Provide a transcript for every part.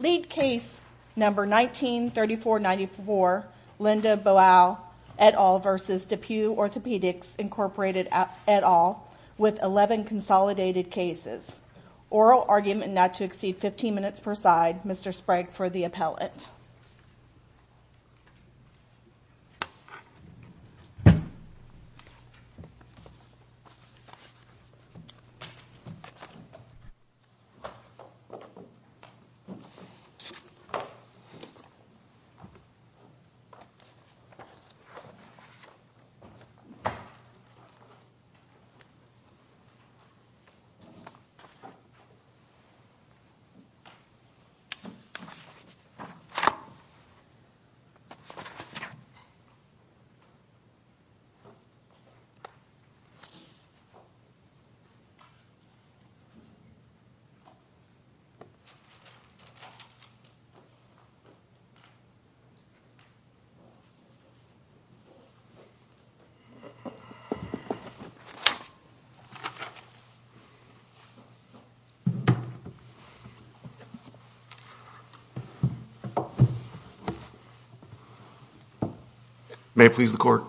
Lead case number 19-3494, Linda Boal et al. v. DePuy Orthopedics Inc. et al. with 11 consolidated cases. Oral argument not to exceed 15 minutes per side. Mr. Sprague for the appellate. Mr. Sprague for the appellate. May it please the court,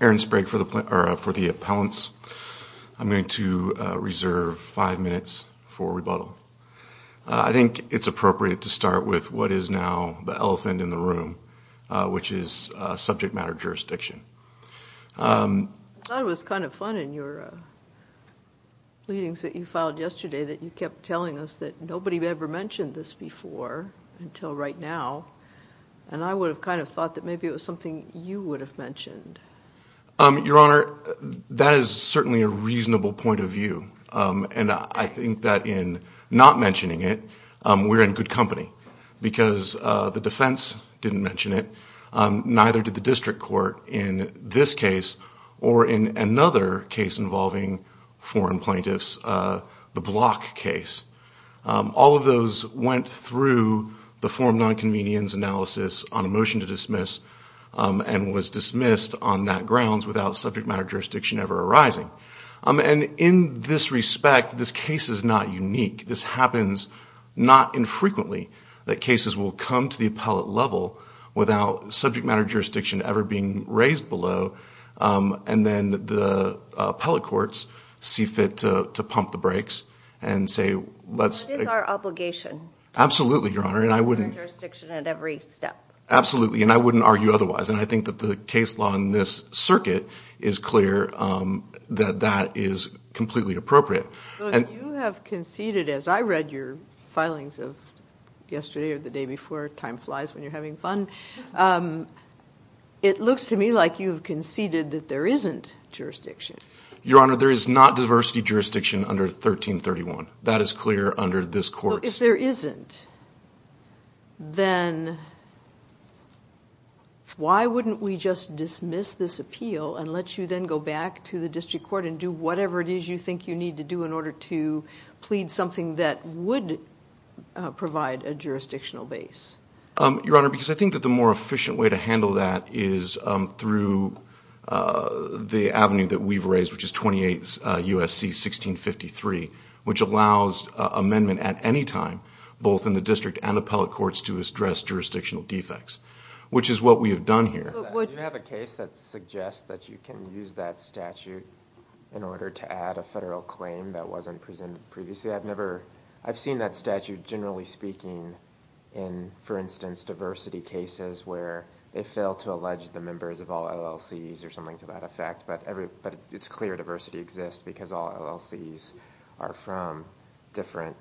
Aaron Sprague for the appellants. I'm going to reserve 5 minutes for rebuttal. I think it's appropriate to start with what is now the elephant in the room, which is subject matter jurisdiction. I thought it was kind of fun in your pleadings that you filed yesterday that you kept telling us that nobody had ever mentioned this before until right now. And I would have kind of thought that maybe it was something you would have mentioned. Your Honor, that is certainly a reasonable point of view. And I think that in not mentioning it, we're in good company. Because the defense didn't mention it, neither did the district court in this case or in another case involving foreign plaintiffs, the Block case. All of those went through the form nonconvenience analysis on a motion to dismiss and was dismissed on that grounds without subject matter jurisdiction ever arising. And in this respect, this case is not unique. This happens not infrequently that cases will come to the appellate level without subject matter jurisdiction ever being raised below. And then the appellate courts see fit to pump the brakes and say let's – What is our obligation? Absolutely, Your Honor, and I wouldn't – Subject matter jurisdiction at every step. Absolutely, and I wouldn't argue otherwise. And I think that the case law in this circuit is clear that that is completely appropriate. But you have conceded, as I read your filings of yesterday or the day before, time flies when you're having fun. It looks to me like you've conceded that there isn't jurisdiction. Your Honor, there is not diversity jurisdiction under 1331. That is clear under this court's – Why wouldn't we just dismiss this appeal and let you then go back to the district court and do whatever it is you think you need to do in order to plead something that would provide a jurisdictional base? Your Honor, because I think that the more efficient way to handle that is through the avenue that we've raised, which is 28 U.S.C. 1653, which allows amendment at any time both in the district and appellate courts to address jurisdictional defects, which is what we have done here. Do you have a case that suggests that you can use that statute in order to add a federal claim that wasn't presented previously? I've never – I've seen that statute generally speaking in, for instance, diversity cases where they fail to allege the members of all LLCs or something to that effect, but it's clear diversity exists because all LLCs are from different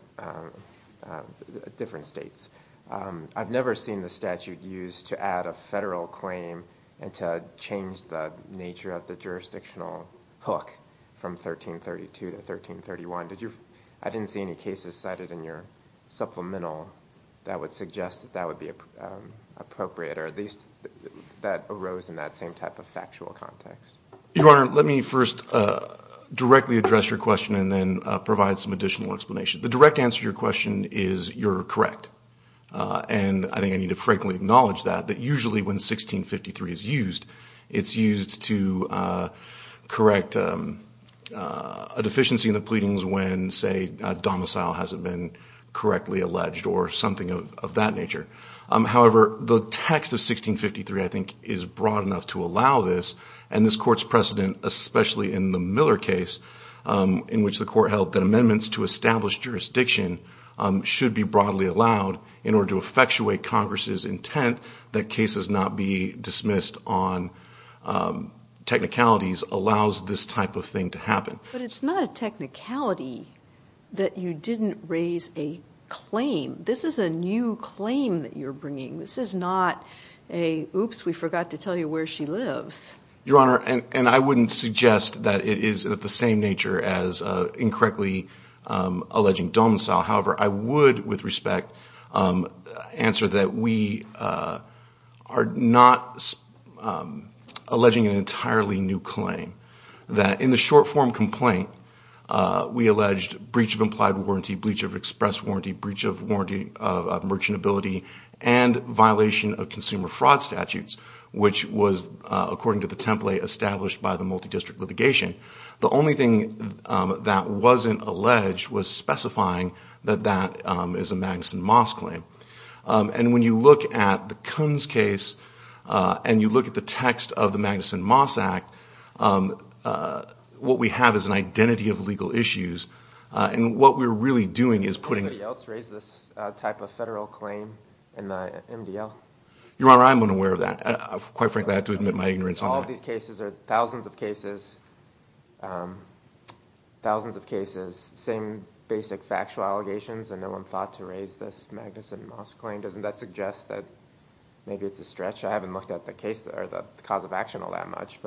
states. I've never seen the statute used to add a federal claim and to change the nature of the jurisdictional hook from 1332 to 1331. Did you – I didn't see any cases cited in your supplemental that would suggest that that would be appropriate or at least that arose in that same type of factual context. Your Honor, let me first directly address your question and then provide some additional explanation. The direct answer to your question is you're correct, and I think I need to frankly acknowledge that, that usually when 1653 is used, it's used to correct a deficiency in the pleadings when, say, domicile hasn't been correctly alleged or something of that nature. However, the text of 1653 I think is broad enough to allow this, and this Court's precedent, especially in the Miller case, in which the Court held that amendments to establish jurisdiction should be broadly allowed in order to effectuate Congress's intent that cases not be dismissed on technicalities allows this type of thing to happen. But it's not a technicality that you didn't raise a claim. This is a new claim that you're bringing. This is not a, oops, we forgot to tell you where she lives. Your Honor, and I wouldn't suggest that it is of the same nature as incorrectly alleging domicile. However, I would with respect answer that we are not alleging an entirely new claim, that in the short-form complaint, we alleged breach of implied warranty, breach of express warranty, breach of warranty of merchantability, and violation of consumer fraud statutes, which was according to the template established by the multi-district litigation. The only thing that wasn't alleged was specifying that that is a Magnuson-Moss claim. And when you look at the Kunz case and you look at the text of the Magnuson-Moss Act, what we have is an identity of legal issues. And what we're really doing is putting... Did anybody else raise this type of federal claim in the MDL? Your Honor, I'm unaware of that. Quite frankly, I have to admit my ignorance on that. All of these cases are thousands of cases, thousands of cases, same basic factual allegations, and no one thought to raise this Magnuson-Moss claim. Doesn't that suggest that maybe it's a stretch? I haven't looked at the cause of action all that much.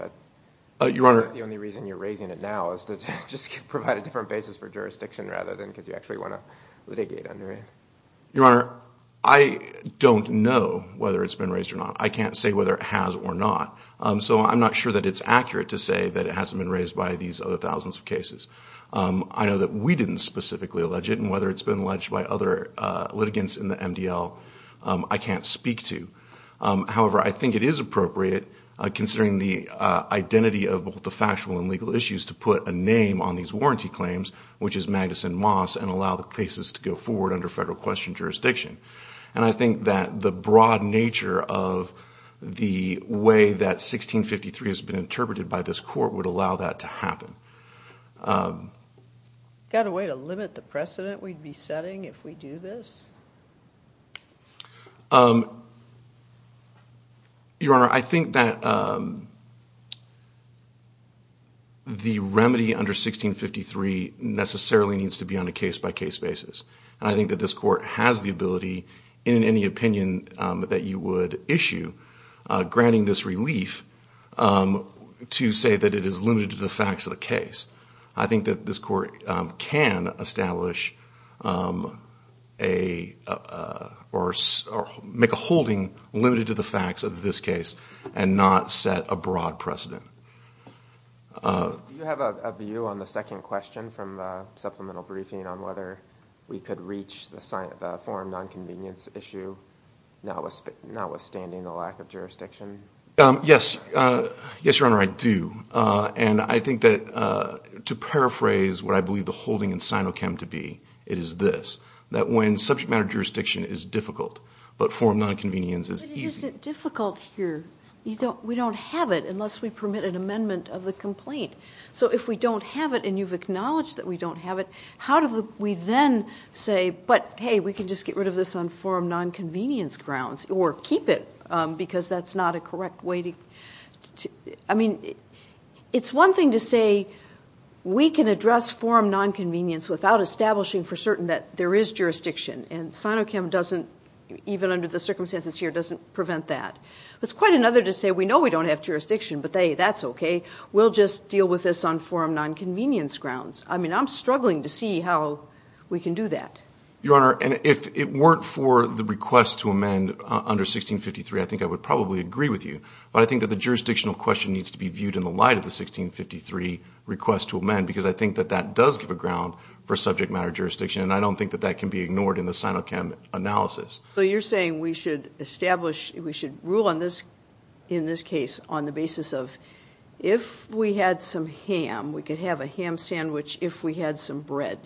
Your Honor... Is that the only reason you're raising it now, is to just provide a different basis for jurisdiction rather than because you actually want to litigate under it? Your Honor, I don't know whether it's been raised or not. I can't say whether it has or not, so I'm not sure that it's accurate to say that it hasn't been raised by these other thousands of cases. I know that we didn't specifically allege it, and whether it's been alleged by other litigants in the MDL, I can't speak to. However, I think it is appropriate, considering the identity of both the factual and legal issues, to put a name on these warranty claims, which is Magnuson-Moss, and allow the cases to go forward under federal question jurisdiction. And I think that the broad nature of the way that 1653 has been interpreted by this court would allow that to happen. Got a way to limit the precedent we'd be setting if we do this? Your Honor, I think that the remedy under 1653 necessarily needs to be on a case-by-case basis. And I think that this court has the ability, in any opinion that you would issue, granting this relief to say that it is limited to the facts of the case. I think that this court can establish or make a holding limited to the facts of this case, and not set a broad precedent. Do you have a view on the second question from supplemental briefing on whether we could reach the forum non-convenience issue, notwithstanding the lack of jurisdiction? Yes, Your Honor, I do. And I think that, to paraphrase what I believe the holding in Sinochem to be, it is this, that when subject matter jurisdiction is difficult, but forum non-convenience is easy. But is it difficult here? We don't have it unless we permit an amendment of the complaint. So if we don't have it and you've acknowledged that we don't have it, how do we then say, but hey, we can just get rid of this on forum non-convenience grounds, or keep it because that's not a correct way to... I mean, it's one thing to say we can address forum non-convenience without establishing for certain that there is jurisdiction, and Sinochem doesn't, even under the circumstances here, doesn't prevent that. It's quite another to say we know we don't have jurisdiction, but hey, that's okay. We'll just deal with this on forum non-convenience grounds. I mean, I'm struggling to see how we can do that. Your Honor, and if it weren't for the request to amend under 1653, I think I would probably agree with you, but I think that the jurisdictional question needs to be viewed in the light of the 1653 request to amend because I think that that does give a ground for subject matter jurisdiction, and I don't think that that can be ignored in the Sinochem analysis. So you're saying we should establish, we should rule on this, in this case, on the basis of if we had some ham, we could have a ham sandwich if we had some bread,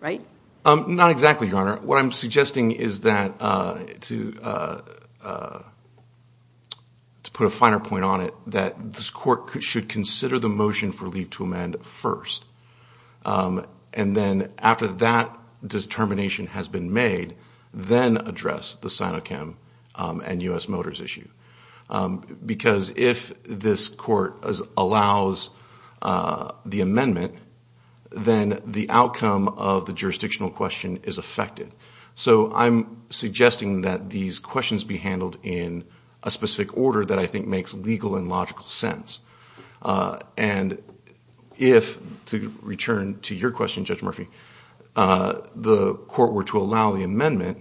right? Not exactly, Your Honor. Your Honor, what I'm suggesting is that to put a finer point on it, that this court should consider the motion for leave to amend first, and then after that determination has been made, then address the Sinochem and U.S. Motors issue because if this court allows the amendment, then the outcome of the jurisdictional question is affected. So I'm suggesting that these questions be handled in a specific order that I think makes legal and logical sense. And if, to return to your question, Judge Murphy, the court were to allow the amendment,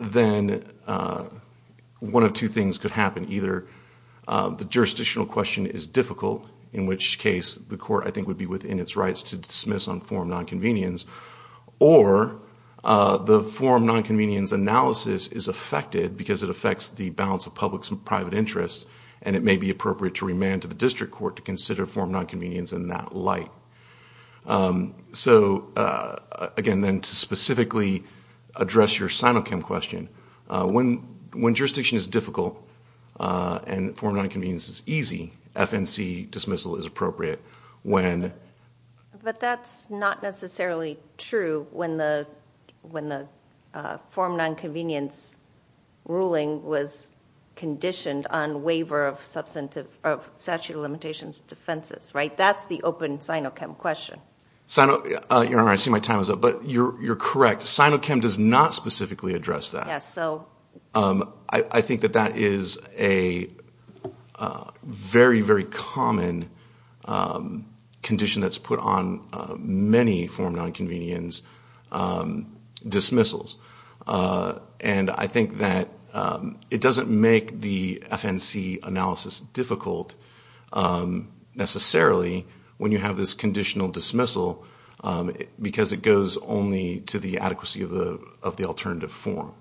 then one of two things could happen. Either the jurisdictional question is difficult, in which case the court, I think, would be within its rights to dismiss on form nonconvenience, or the form nonconvenience analysis is affected because it affects the balance of public and private interests and it may be appropriate to remand to the district court to consider form nonconvenience in that light. So, again, then to specifically address your Sinochem question, when jurisdiction is difficult and form nonconvenience is easy, FNC dismissal is appropriate. But that's not necessarily true when the form nonconvenience ruling was conditioned on waiver of statute of limitations defenses, right? That's the open Sinochem question. You're correct. Sinochem does not specifically address that. I think that that is a very, very common condition that's put on many form nonconvenience dismissals. And I think that it doesn't make the FNC analysis difficult necessarily when you have this conditional dismissal because it goes only to the adequacy of the alternative form.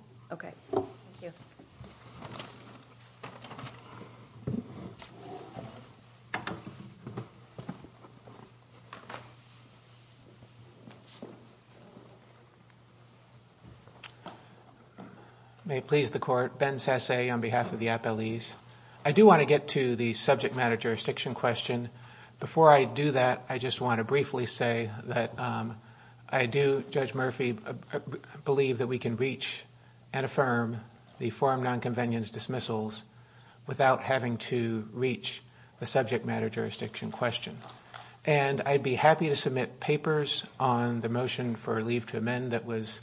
May it please the court. Ben Sasse on behalf of the appellees. I do want to get to the subject matter jurisdiction question. Before I do that, I just want to briefly say that I do, Judge Murphy, believe that we can reach and affirm the form nonconvenience dismissals without having to reach the subject matter jurisdiction question. And I'd be happy to submit papers on the motion for leave to amend that was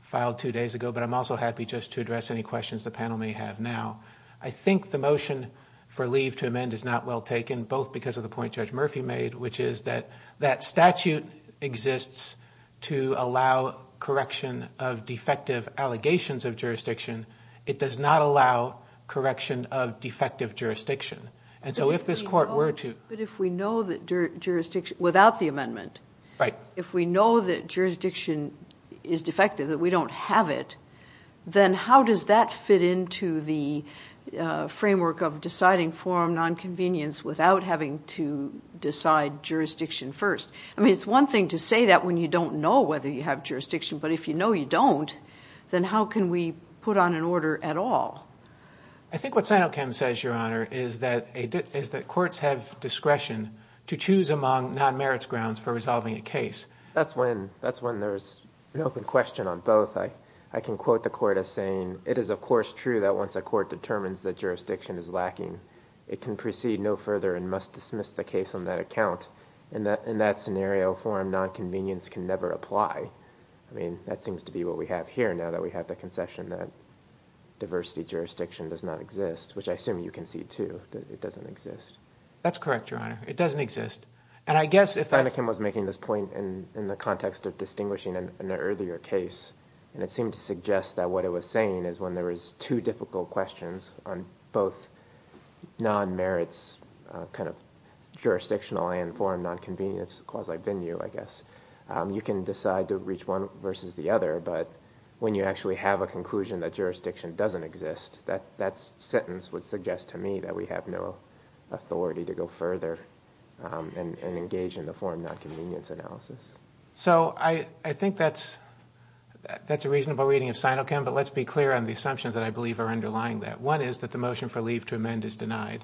filed two days ago, but I'm also happy just to address any questions the panel may have now. I think the motion for leave to amend is not well taken, both because of the point Judge Murphy made, which is that that statute exists to allow correction of defective allegations of jurisdiction. It does not allow correction of defective jurisdiction. And so if this court were to... But if we know that jurisdiction, without the amendment, if we know that jurisdiction is defective, that we don't have it, then how does that fit into the framework of deciding form nonconvenience without having to decide jurisdiction first? I mean, it's one thing to say that when you don't know whether you have jurisdiction, but if you know you don't, then how can we put on an order at all? I think what Sinochem says, Your Honor, is that courts have discretion to choose among non-merits grounds for resolving a case. That's when there's an open question on both. I can quote the court as saying, It is, of course, true that once a court determines that jurisdiction is lacking, it can proceed no further and must dismiss the case on that account. In that scenario, form nonconvenience can never apply. That seems to be what we have here, now that we have the concession that diversity jurisdiction does not exist, which I assume you can see, too, that it doesn't exist. That's correct, Your Honor. It doesn't exist. Sinochem was making this point in the context of distinguishing an earlier case, and it seemed to suggest that what it was saying is when there is two difficult questions on both non-merits kind of jurisdictional and form nonconvenience quasi-venue, I guess, you can decide to reach one versus the other, but when you actually have a conclusion that jurisdiction doesn't exist, that sentence would suggest to me that we have no authority to go further and engage in the form nonconvenience analysis. So I think that's a reasonable reading of Sinochem, but let's be clear on the assumptions that I believe are underlying that. One is that the motion for leave to amend is denied,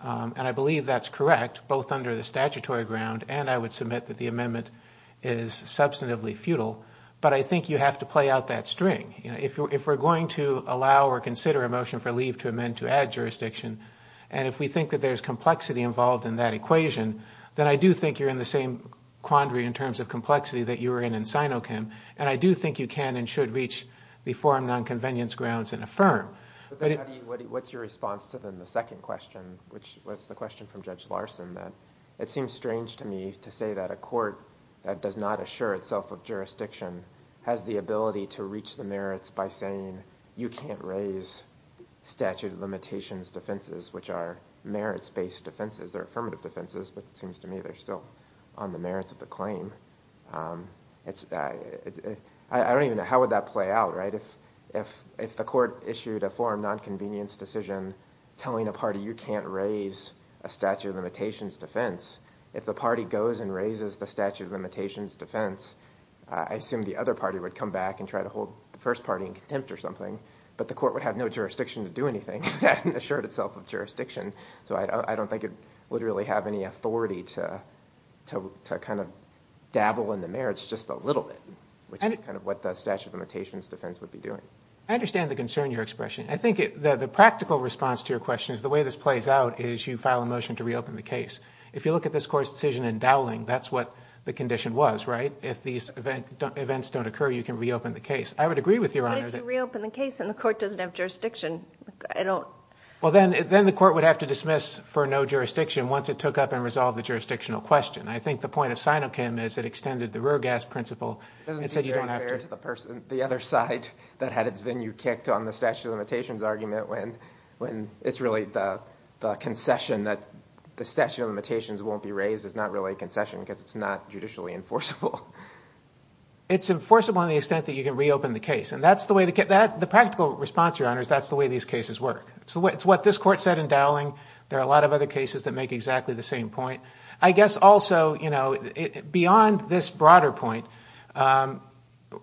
and I believe that's correct, both under the statutory ground, and I would submit that the amendment is substantively futile, but I think you have to play out that string. If we're going to allow or consider a motion for leave to amend to add jurisdiction, and if we think that there's complexity involved in that equation, then I do think you're in the same quandary in terms of complexity that you were in in Sinochem, and I do think you can and should reach the form nonconvenience grounds and affirm. What's your response to the second question, which was the question from Judge Larson, that it seems strange to me to say that a court that does not assure itself of jurisdiction has the ability to reach the merits by saying you can't raise statute of limitations defenses, which are merits-based defenses, they're affirmative defenses, but it seems to me they're still on the merits of the claim. I don't even know, how would that play out, right? If the court issued a form nonconvenience decision telling a party you can't raise a statute of limitations defense, if the party goes and raises the statute of limitations defense, I assume the other party would come back and try to hold the first party in contempt or something, but the court would have no jurisdiction to do anything. It assured itself of jurisdiction, so I don't think it would really have any authority to dabble in the merits just a little bit, which is what the statute of limitations defense would be doing. I understand the concern in your expression. I think the practical response to your question is the way this plays out is you file a motion to reopen the case. If you look at this court's decision in Dowling, that's what the condition was, right? If these events don't occur, you can reopen the case. I would agree with that, but I don't think it would have any jurisdiction. Then the court would have to dismiss for no jurisdiction once it took up and resolved the jurisdictional question. I think the point of Sinokym is it extended the rear gas principle. It doesn't seem fair to the other side that had its venue kicked on the statute of limitations argument when it's really the concession that the statute of limitations won't be raised is not really a concession because it's not judicially enforceable. It's enforceable to the extent that you can reopen the case. The practical response, Your Honor, is that's the way these cases work. It's what this court said in Dowling. There are a lot of other cases that make exactly the same point. I guess also, beyond this broader point,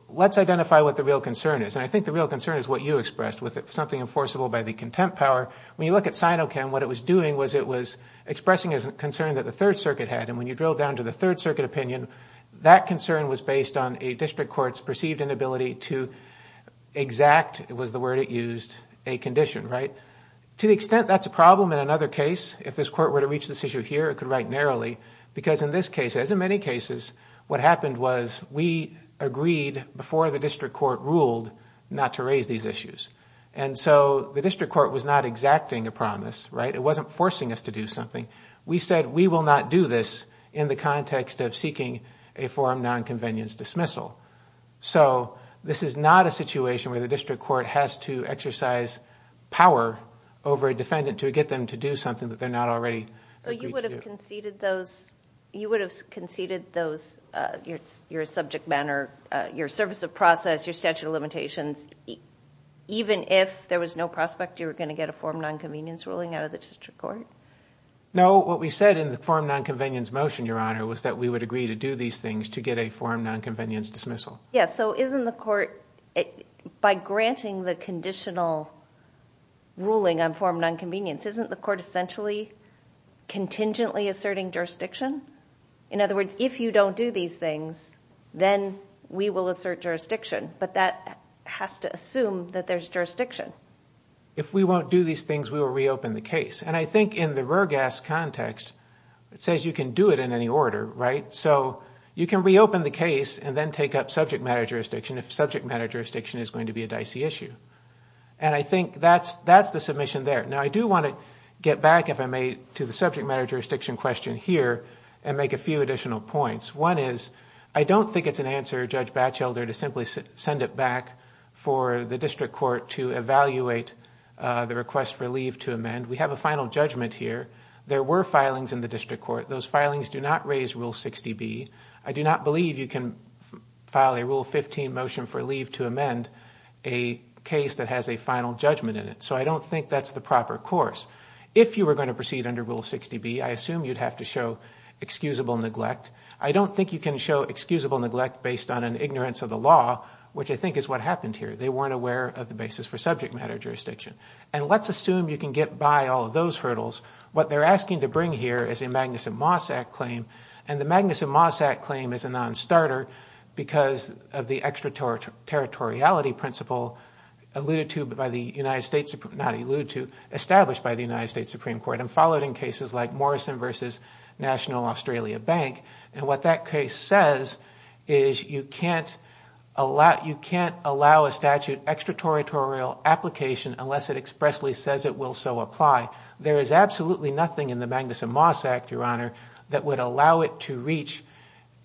let's identify what the real concern is. I think the real concern is what you expressed with something enforceable by the contempt power. When you look at Sinokym, what it was doing was it was expressing a concern that the Third Circuit had. When you drill down to the Third Circuit opinion, that concern was based on a district court's perceived inability to exact, it was the word it used, a condition. To the extent that's a problem in another case, if this court were to reach this issue here, it could write narrowly because in this case, as in many cases, what happened was we agreed before the district court ruled not to raise these issues. The district court was not exacting a promise. It wasn't forcing us to do something. We said we will not do this in the context of seeking a forum nonconvenience dismissal. This is not a situation where the district court has to exercise power over a defendant to get them to do something that they're not already agreed to. You would have conceded your subject matter, your service of process, your statute of limitations, even if there was no prospect you were going to get a forum nonconvenience ruling out of the district court? No, what we said in the forum nonconvenience motion, Your Honor, was that we would agree to do these things to get a forum nonconvenience dismissal. By granting the conditional ruling on forum nonconvenience, isn't the court essentially contingently asserting jurisdiction? In other words, if you don't do these things, then we will assert jurisdiction, but that has to assume that there's jurisdiction. If we won't do these things, we will reopen the case. I think in the Roergast context, it says you can do it in any order, right? You can reopen the case and then take up subject matter jurisdiction if subject matter jurisdiction is going to be a dicey issue. I think that's the submission there. I do want to get back, if I may, to the subject matter jurisdiction question here and make a few additional points. One is, I don't think it's an answer, Judge Batchelder, to simply send it back for the district court to evaluate the request for leave to amend. We have a final judgment here. There were filings in the district court. Those filings do not raise Rule 60B. I do not believe you can file a Rule 15 motion for leave to amend a case that has a final judgment in it, so I don't think that's the proper course. If you were going to proceed under Rule 60B, I assume you'd have to show excusable neglect. I don't think you can show excusable neglect based on an ignorance of the law, which I think is what happened here. They weren't aware of the basis for subject matter jurisdiction. Let's assume you can get by all of those hurdles. What they're asking to bring here is a Magnuson-Moss Act claim. The Magnuson-Moss Act claim is a non-starter because of the extraterritoriality principle established by the United States Supreme Court and followed in cases like Morrison v. National Australia Bank, and what that case says is you can't allow a statute extraterritorial application unless it expressly says it will so apply. There is absolutely nothing in the Magnuson-Moss Act, Your Honor, that would allow it to reach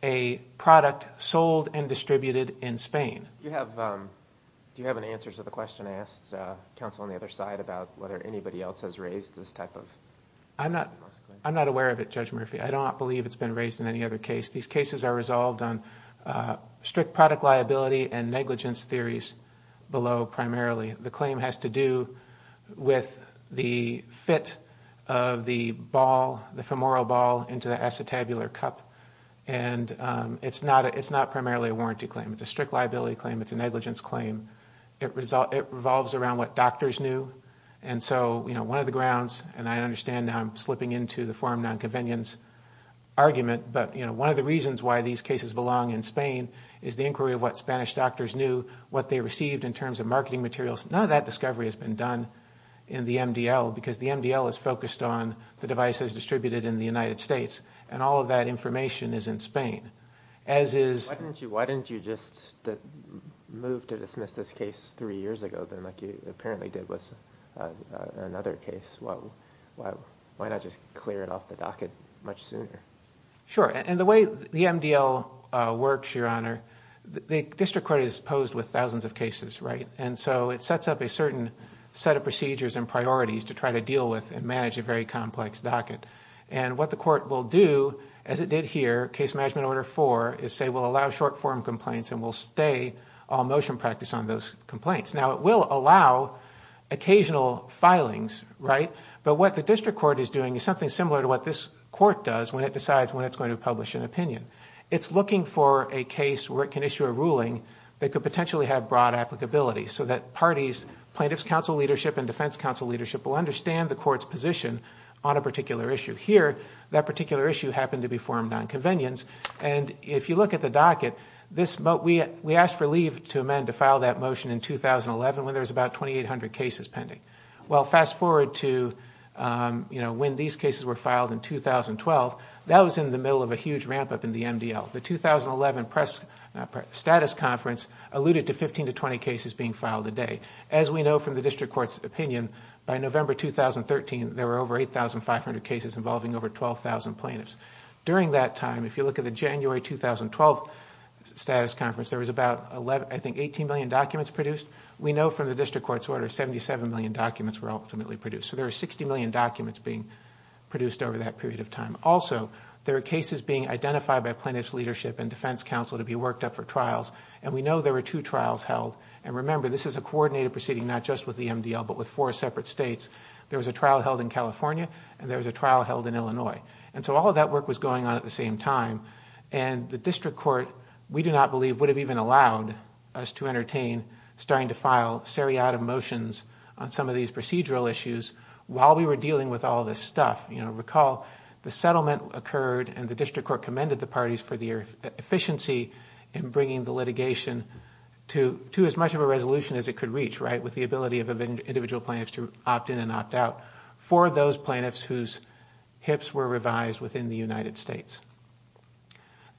a product sold and distributed in Spain. Do you have an answer to the question I asked counsel on the other side about whether anybody else has raised this type of claim? I'm not aware of it, Judge Murphy. I don't believe it's been raised in any other case. These cases are resolved on strict product liability and negligence theories below primarily. The claim has to do with the fit of the ball, the femoral ball, into the acetabular cup, and it's not primarily a warranty claim. It's a strict liability claim. It's a negligence claim. It revolves around what doctors knew, and so one of the grounds, and I understand now I'm slipping into the forum nonconvenience argument, but one of the reasons why these cases belong in Spain is the inquiry of what Spanish doctors knew, what they received in terms of marketing materials. None of that discovery has been done in the MDL because the MDL is focused on the devices distributed in the United States, and all of that information is in Spain. Why didn't you just move to dismiss this case three years ago like you apparently did with another case? Why not just clear it off the docket much sooner? Sure, and the way the MDL works, Your Honor, the district court is posed with thousands of cases, right? And so it sets up a certain set of procedures and priorities to try to deal with and manage a very complex docket. And what the court will do, as it did here, case management order four, is say we'll allow short-form complaints and we'll stay all motion practice on those complaints. Now, it will allow occasional filings, right? But what the district court is doing is something similar to what this court does when it decides when it's going to publish an opinion. It's looking for a case where it can issue a ruling that could potentially have broad applicability so that parties, plaintiff's counsel leadership and defense counsel leadership, will understand the court's position on a particular issue. Here, that particular issue happened to be formed on convenience. And if you look at the docket, we asked for leave to amend to file that motion in 2011 when there was about 2,800 cases pending. Well, fast forward to when these cases were filed in 2012. That was in the middle of a huge ramp-up in the MDL. The 2011 status conference alluded to 15 to 20 cases being filed a day. As we know from the district court's opinion, by November 2013, there were over 8,500 cases involving over 12,000 plaintiffs. During that time, if you look at the January 2012 status conference, there was about, I think, 18 million documents produced. We know from the district court's order, 77 million documents were ultimately produced. So there were 60 million documents being produced over that period of time. Also, there were cases being identified by plaintiff's leadership and defense counsel to be worked up for trials. And we know there were two trials held. And remember, this is a coordinated proceeding, not just with the MDL, but with four separate states. There was a trial held in California, and there was a trial held in Illinois. And so all of that work was going on at the same time. And the district court, we do not believe, would have even allowed us to entertain starting to file seriatim motions on some of these procedural issues while we were dealing with all this stuff. Recall, the settlement occurred, and the district court commended the parties for their efficiency in bringing the litigation to as much of a resolution as it could reach, right, with the ability of individual plaintiffs to opt in and opt out for those plaintiffs whose hips were revised within the United States.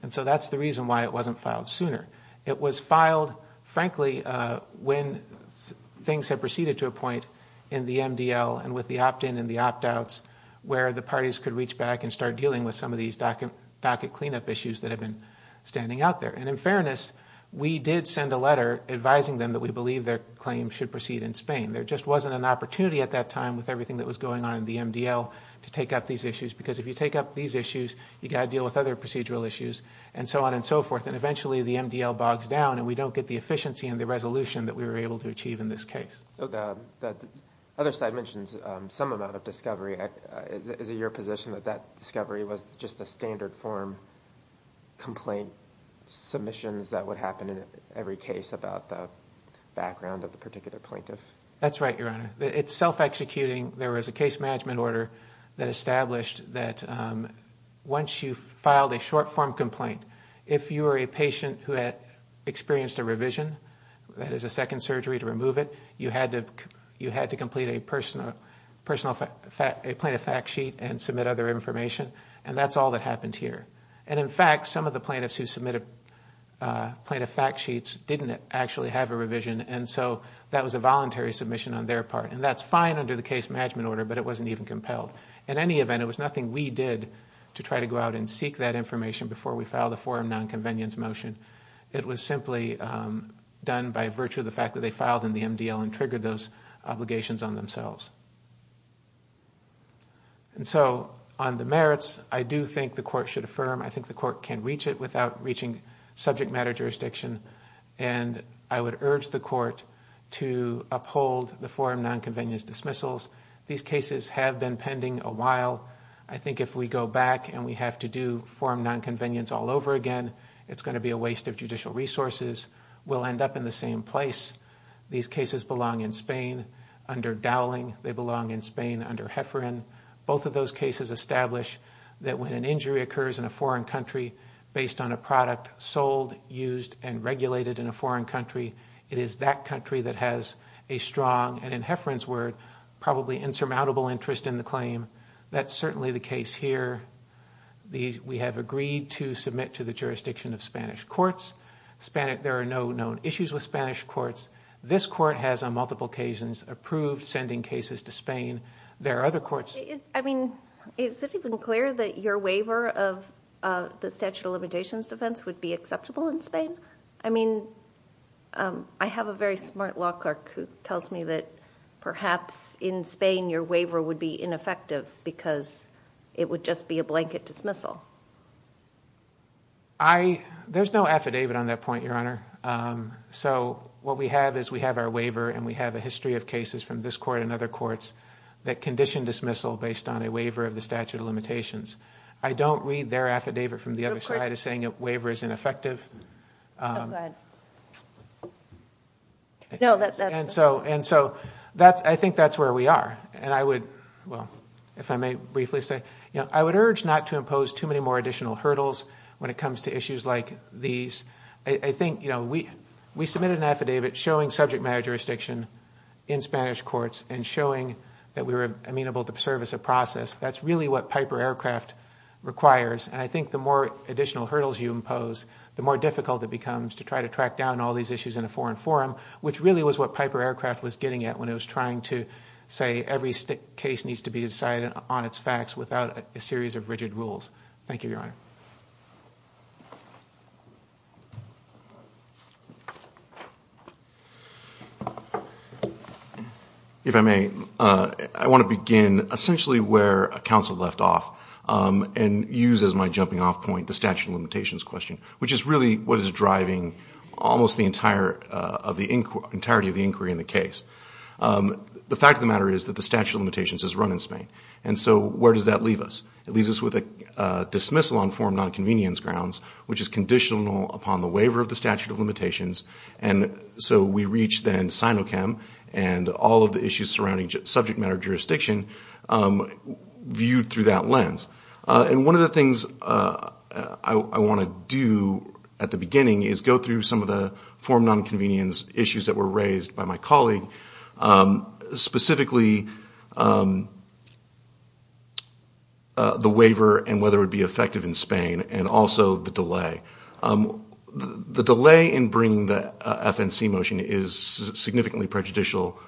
And so that's the reason why it wasn't filed sooner. It was filed, frankly, when things had proceeded to a point in the MDL and with the opt-in and the opt-outs where the parties could reach back and start dealing with some of these docket cleanup issues that had been standing out there. And in fairness, we did send a letter advising them that we believe their claim should proceed in Spain. There just wasn't an opportunity at that time with everything that was going on in the MDL to take up these issues, because if you take up these issues, you've got to deal with other procedural issues, and so on and so forth. And eventually the MDL bogs down, and we don't get the efficiency and the resolution that we were able to achieve in this case. So the other side mentions some amount of discovery. Is it your position that that discovery was just the standard form complaint submissions that would happen in every case about the background of the particular plaintiff? That's right, Your Honor. It's self-executing. There was a case management order that established that once you've filed a short-form complaint, if you were a patient who had experienced a revision, that is a second surgery to remove it, you had to complete a plaintiff fact sheet and submit other information, and that's all that happened here. And in fact, some of the plaintiffs who submitted plaintiff fact sheets didn't actually have a revision, and so that was a voluntary submission on their part, and that's fine under the case management order, but it wasn't even compelled. In any event, it was nothing we did to try to go out and seek that information before we filed a forum nonconvenience motion. It was simply done by virtue of the fact that they filed in the MDL and triggered those obligations on themselves. And so on the merits, I do think the Court should affirm. I think the Court can reach it without reaching subject matter jurisdiction, and I would urge the Court to uphold the forum nonconvenience dismissals. These cases have been pending a while. I think if we go back and we have to do forum nonconvenience all over again, it's going to be a waste of judicial resources. We'll end up in the same place. These cases belong in Spain under Dowling. They belong in Spain under Hefferon. Both of those cases establish that when an injury occurs in a foreign country based on a product sold, used, and regulated in a foreign country, it is that country that has a strong, and in Hefferon's word, probably insurmountable interest in the claim. That's certainly the case here. We have agreed to submit to the jurisdiction of Spanish courts. There are no known issues with Spanish courts. This Court has, on multiple occasions, approved sending cases to Spain. There are other courts... Is it even clear that your waiver of the statute of limitations defense would be acceptable in Spain? I have a very smart law clerk who tells me that perhaps in Spain your waiver would be ineffective because it would just be a blanket dismissal. There's no affidavit on that point, Your Honor. What we have is we have our waiver and we have a history of cases from this court and other courts that condition dismissal based on a waiver of the statute of limitations. I don't read their affidavit from the other side as saying a waiver is ineffective. I think that's where we are. I would urge not to impose too many more additional hurdles when it comes to issues like these. We submitted an affidavit showing subject matter jurisdiction in Spanish courts and showing that we were amenable to service a process. That's really what Piper Aircraft requires. I think the more additional hurdles you impose, the more difficult it becomes to try to track down all these issues in a foreign forum, which really was what Piper Aircraft was getting at when it was trying to say every case needs to be decided on its facts without a series of rigid rules. Thank you, Your Honor. If I may, I want to begin essentially where counsel left off and use as my jumping off point the statute of limitations question which is really what is driving almost the entirety of the inquiry in the case. The fact of the matter is that the statute of limitations is run in Spain and so where does that leave us? It leaves us with a dismissal on foreign nonconvenience grounds which is conditional upon the waiver of the statute of limitations and so we reach then SINOCHEM and all of the issues surrounding subject matter jurisdiction viewed through that lens. One of the things I want to do at the beginning is go through some of the foreign nonconvenience issues that were raised by my colleague, specifically the waiver and whether it would be effective in Spain and also the delay. The delay in bringing the FNC motion is significantly prejudicial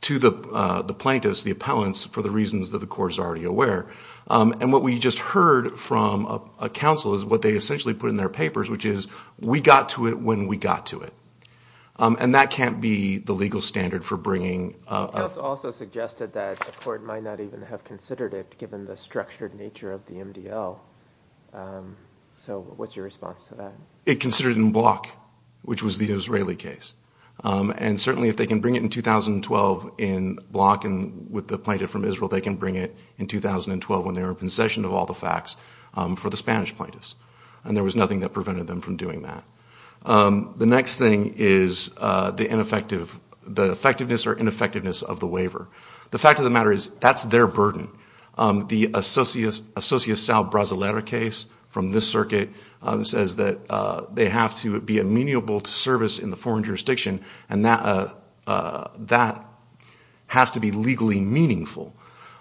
to the plaintiffs, the appellants, for the reasons that the court is already aware and what we just heard from a counsel is what they essentially put in their papers which is we got to it when we got to it and that can't be the legal standard for bringing. It's also suggested that the court might not even have considered it given the structured nature of the MDL so what's your response to that? It considered it in block which was the Israeli case and certainly if they can bring it in 2012 in block and with the plaintiff from Israel they can bring it in 2012 when they are in possession of all the facts for the Spanish plaintiffs and there was nothing that prevented them from doing that. The next thing is the effectiveness or ineffectiveness of the waiver. The fact of the matter is that's their burden. The Associação Brasileira case from this circuit says that they have to be amenable to service in the foreign jurisdiction and that has to be legally meaningful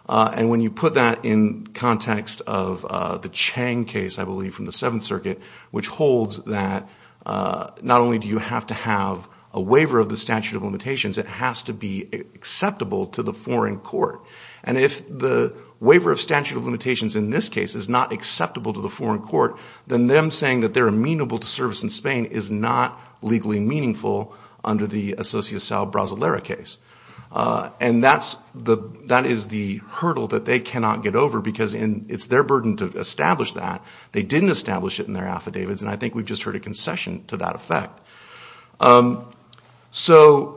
and when you put that in context of the Chang case I believe from the 7th circuit which holds that not only do you have to have a waiver of the statute of limitations it has to be acceptable to the foreign court and if the waiver of statute of limitations in this case is not acceptable to the foreign court then them saying that they are amenable to service in Spain is not legally meaningful under the Associação Brasileira case. And that is the hurdle that they cannot get over because it's their burden to establish that they didn't establish it in their affidavits and I think we just heard a concession to that effect. So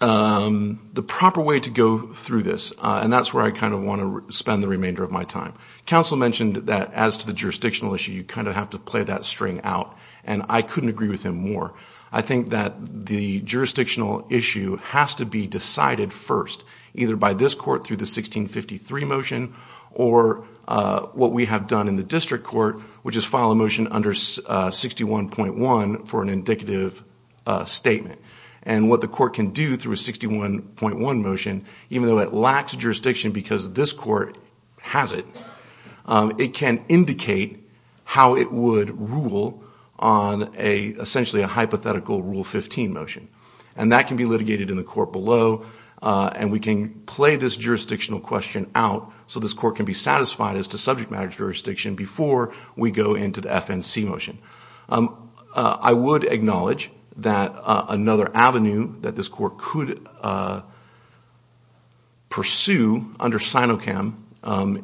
the proper way to go through this and that's where I kind of want to spend the remainder of my time. Counsel mentioned that as to the jurisdictional issue you kind of have to play that string out and I couldn't agree with him more. I think that the jurisdictional issue has to be decided first either by this court through the 1653 motion or what we have done in the district court which is file a motion under 61.1 for an indicative statement and what the court can do through a 61.1 motion even though it lacks jurisdiction because this court has it it can indicate how it would rule on essentially a hypothetical Rule 15 motion and that can be litigated in the court below and we can play this jurisdictional question out so this court can be satisfied as to subject matter jurisdiction before we go into the FNC motion. I would acknowledge that another avenue that this court could pursue under Sinocam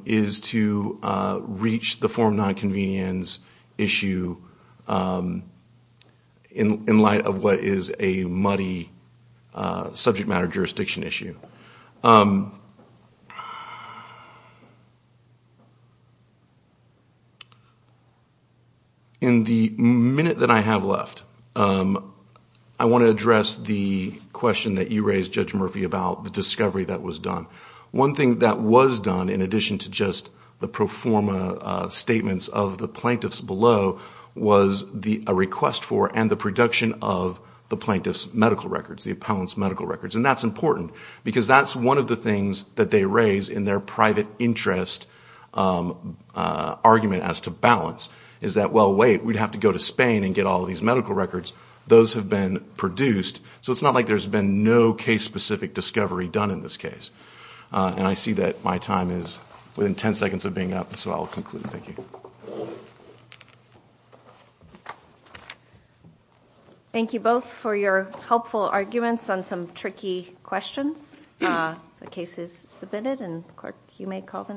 is to reach the form of non-convenience issue in light of what is a muddy subject matter jurisdiction issue. In the minute that I have left I want to address the question that you raised Judge Murphy about the discovery that was done. One thing that was done in addition to just the pro forma statements of the plaintiffs below was a request for and the production of the plaintiff's medical records, the appellant's medical records and that's important because that's one of the things that they raise in their private interest argument as to balance is that, well wait, we'd have to go to Spain and get all these medical records, those have been produced so it's not like there's been no case specific discovery done in this case. And I see that my time is within 10 seconds of being up so I'll conclude. Thank you. Thank you both for your helpful arguments on some tricky questions. The case is submitted and you may call the next one.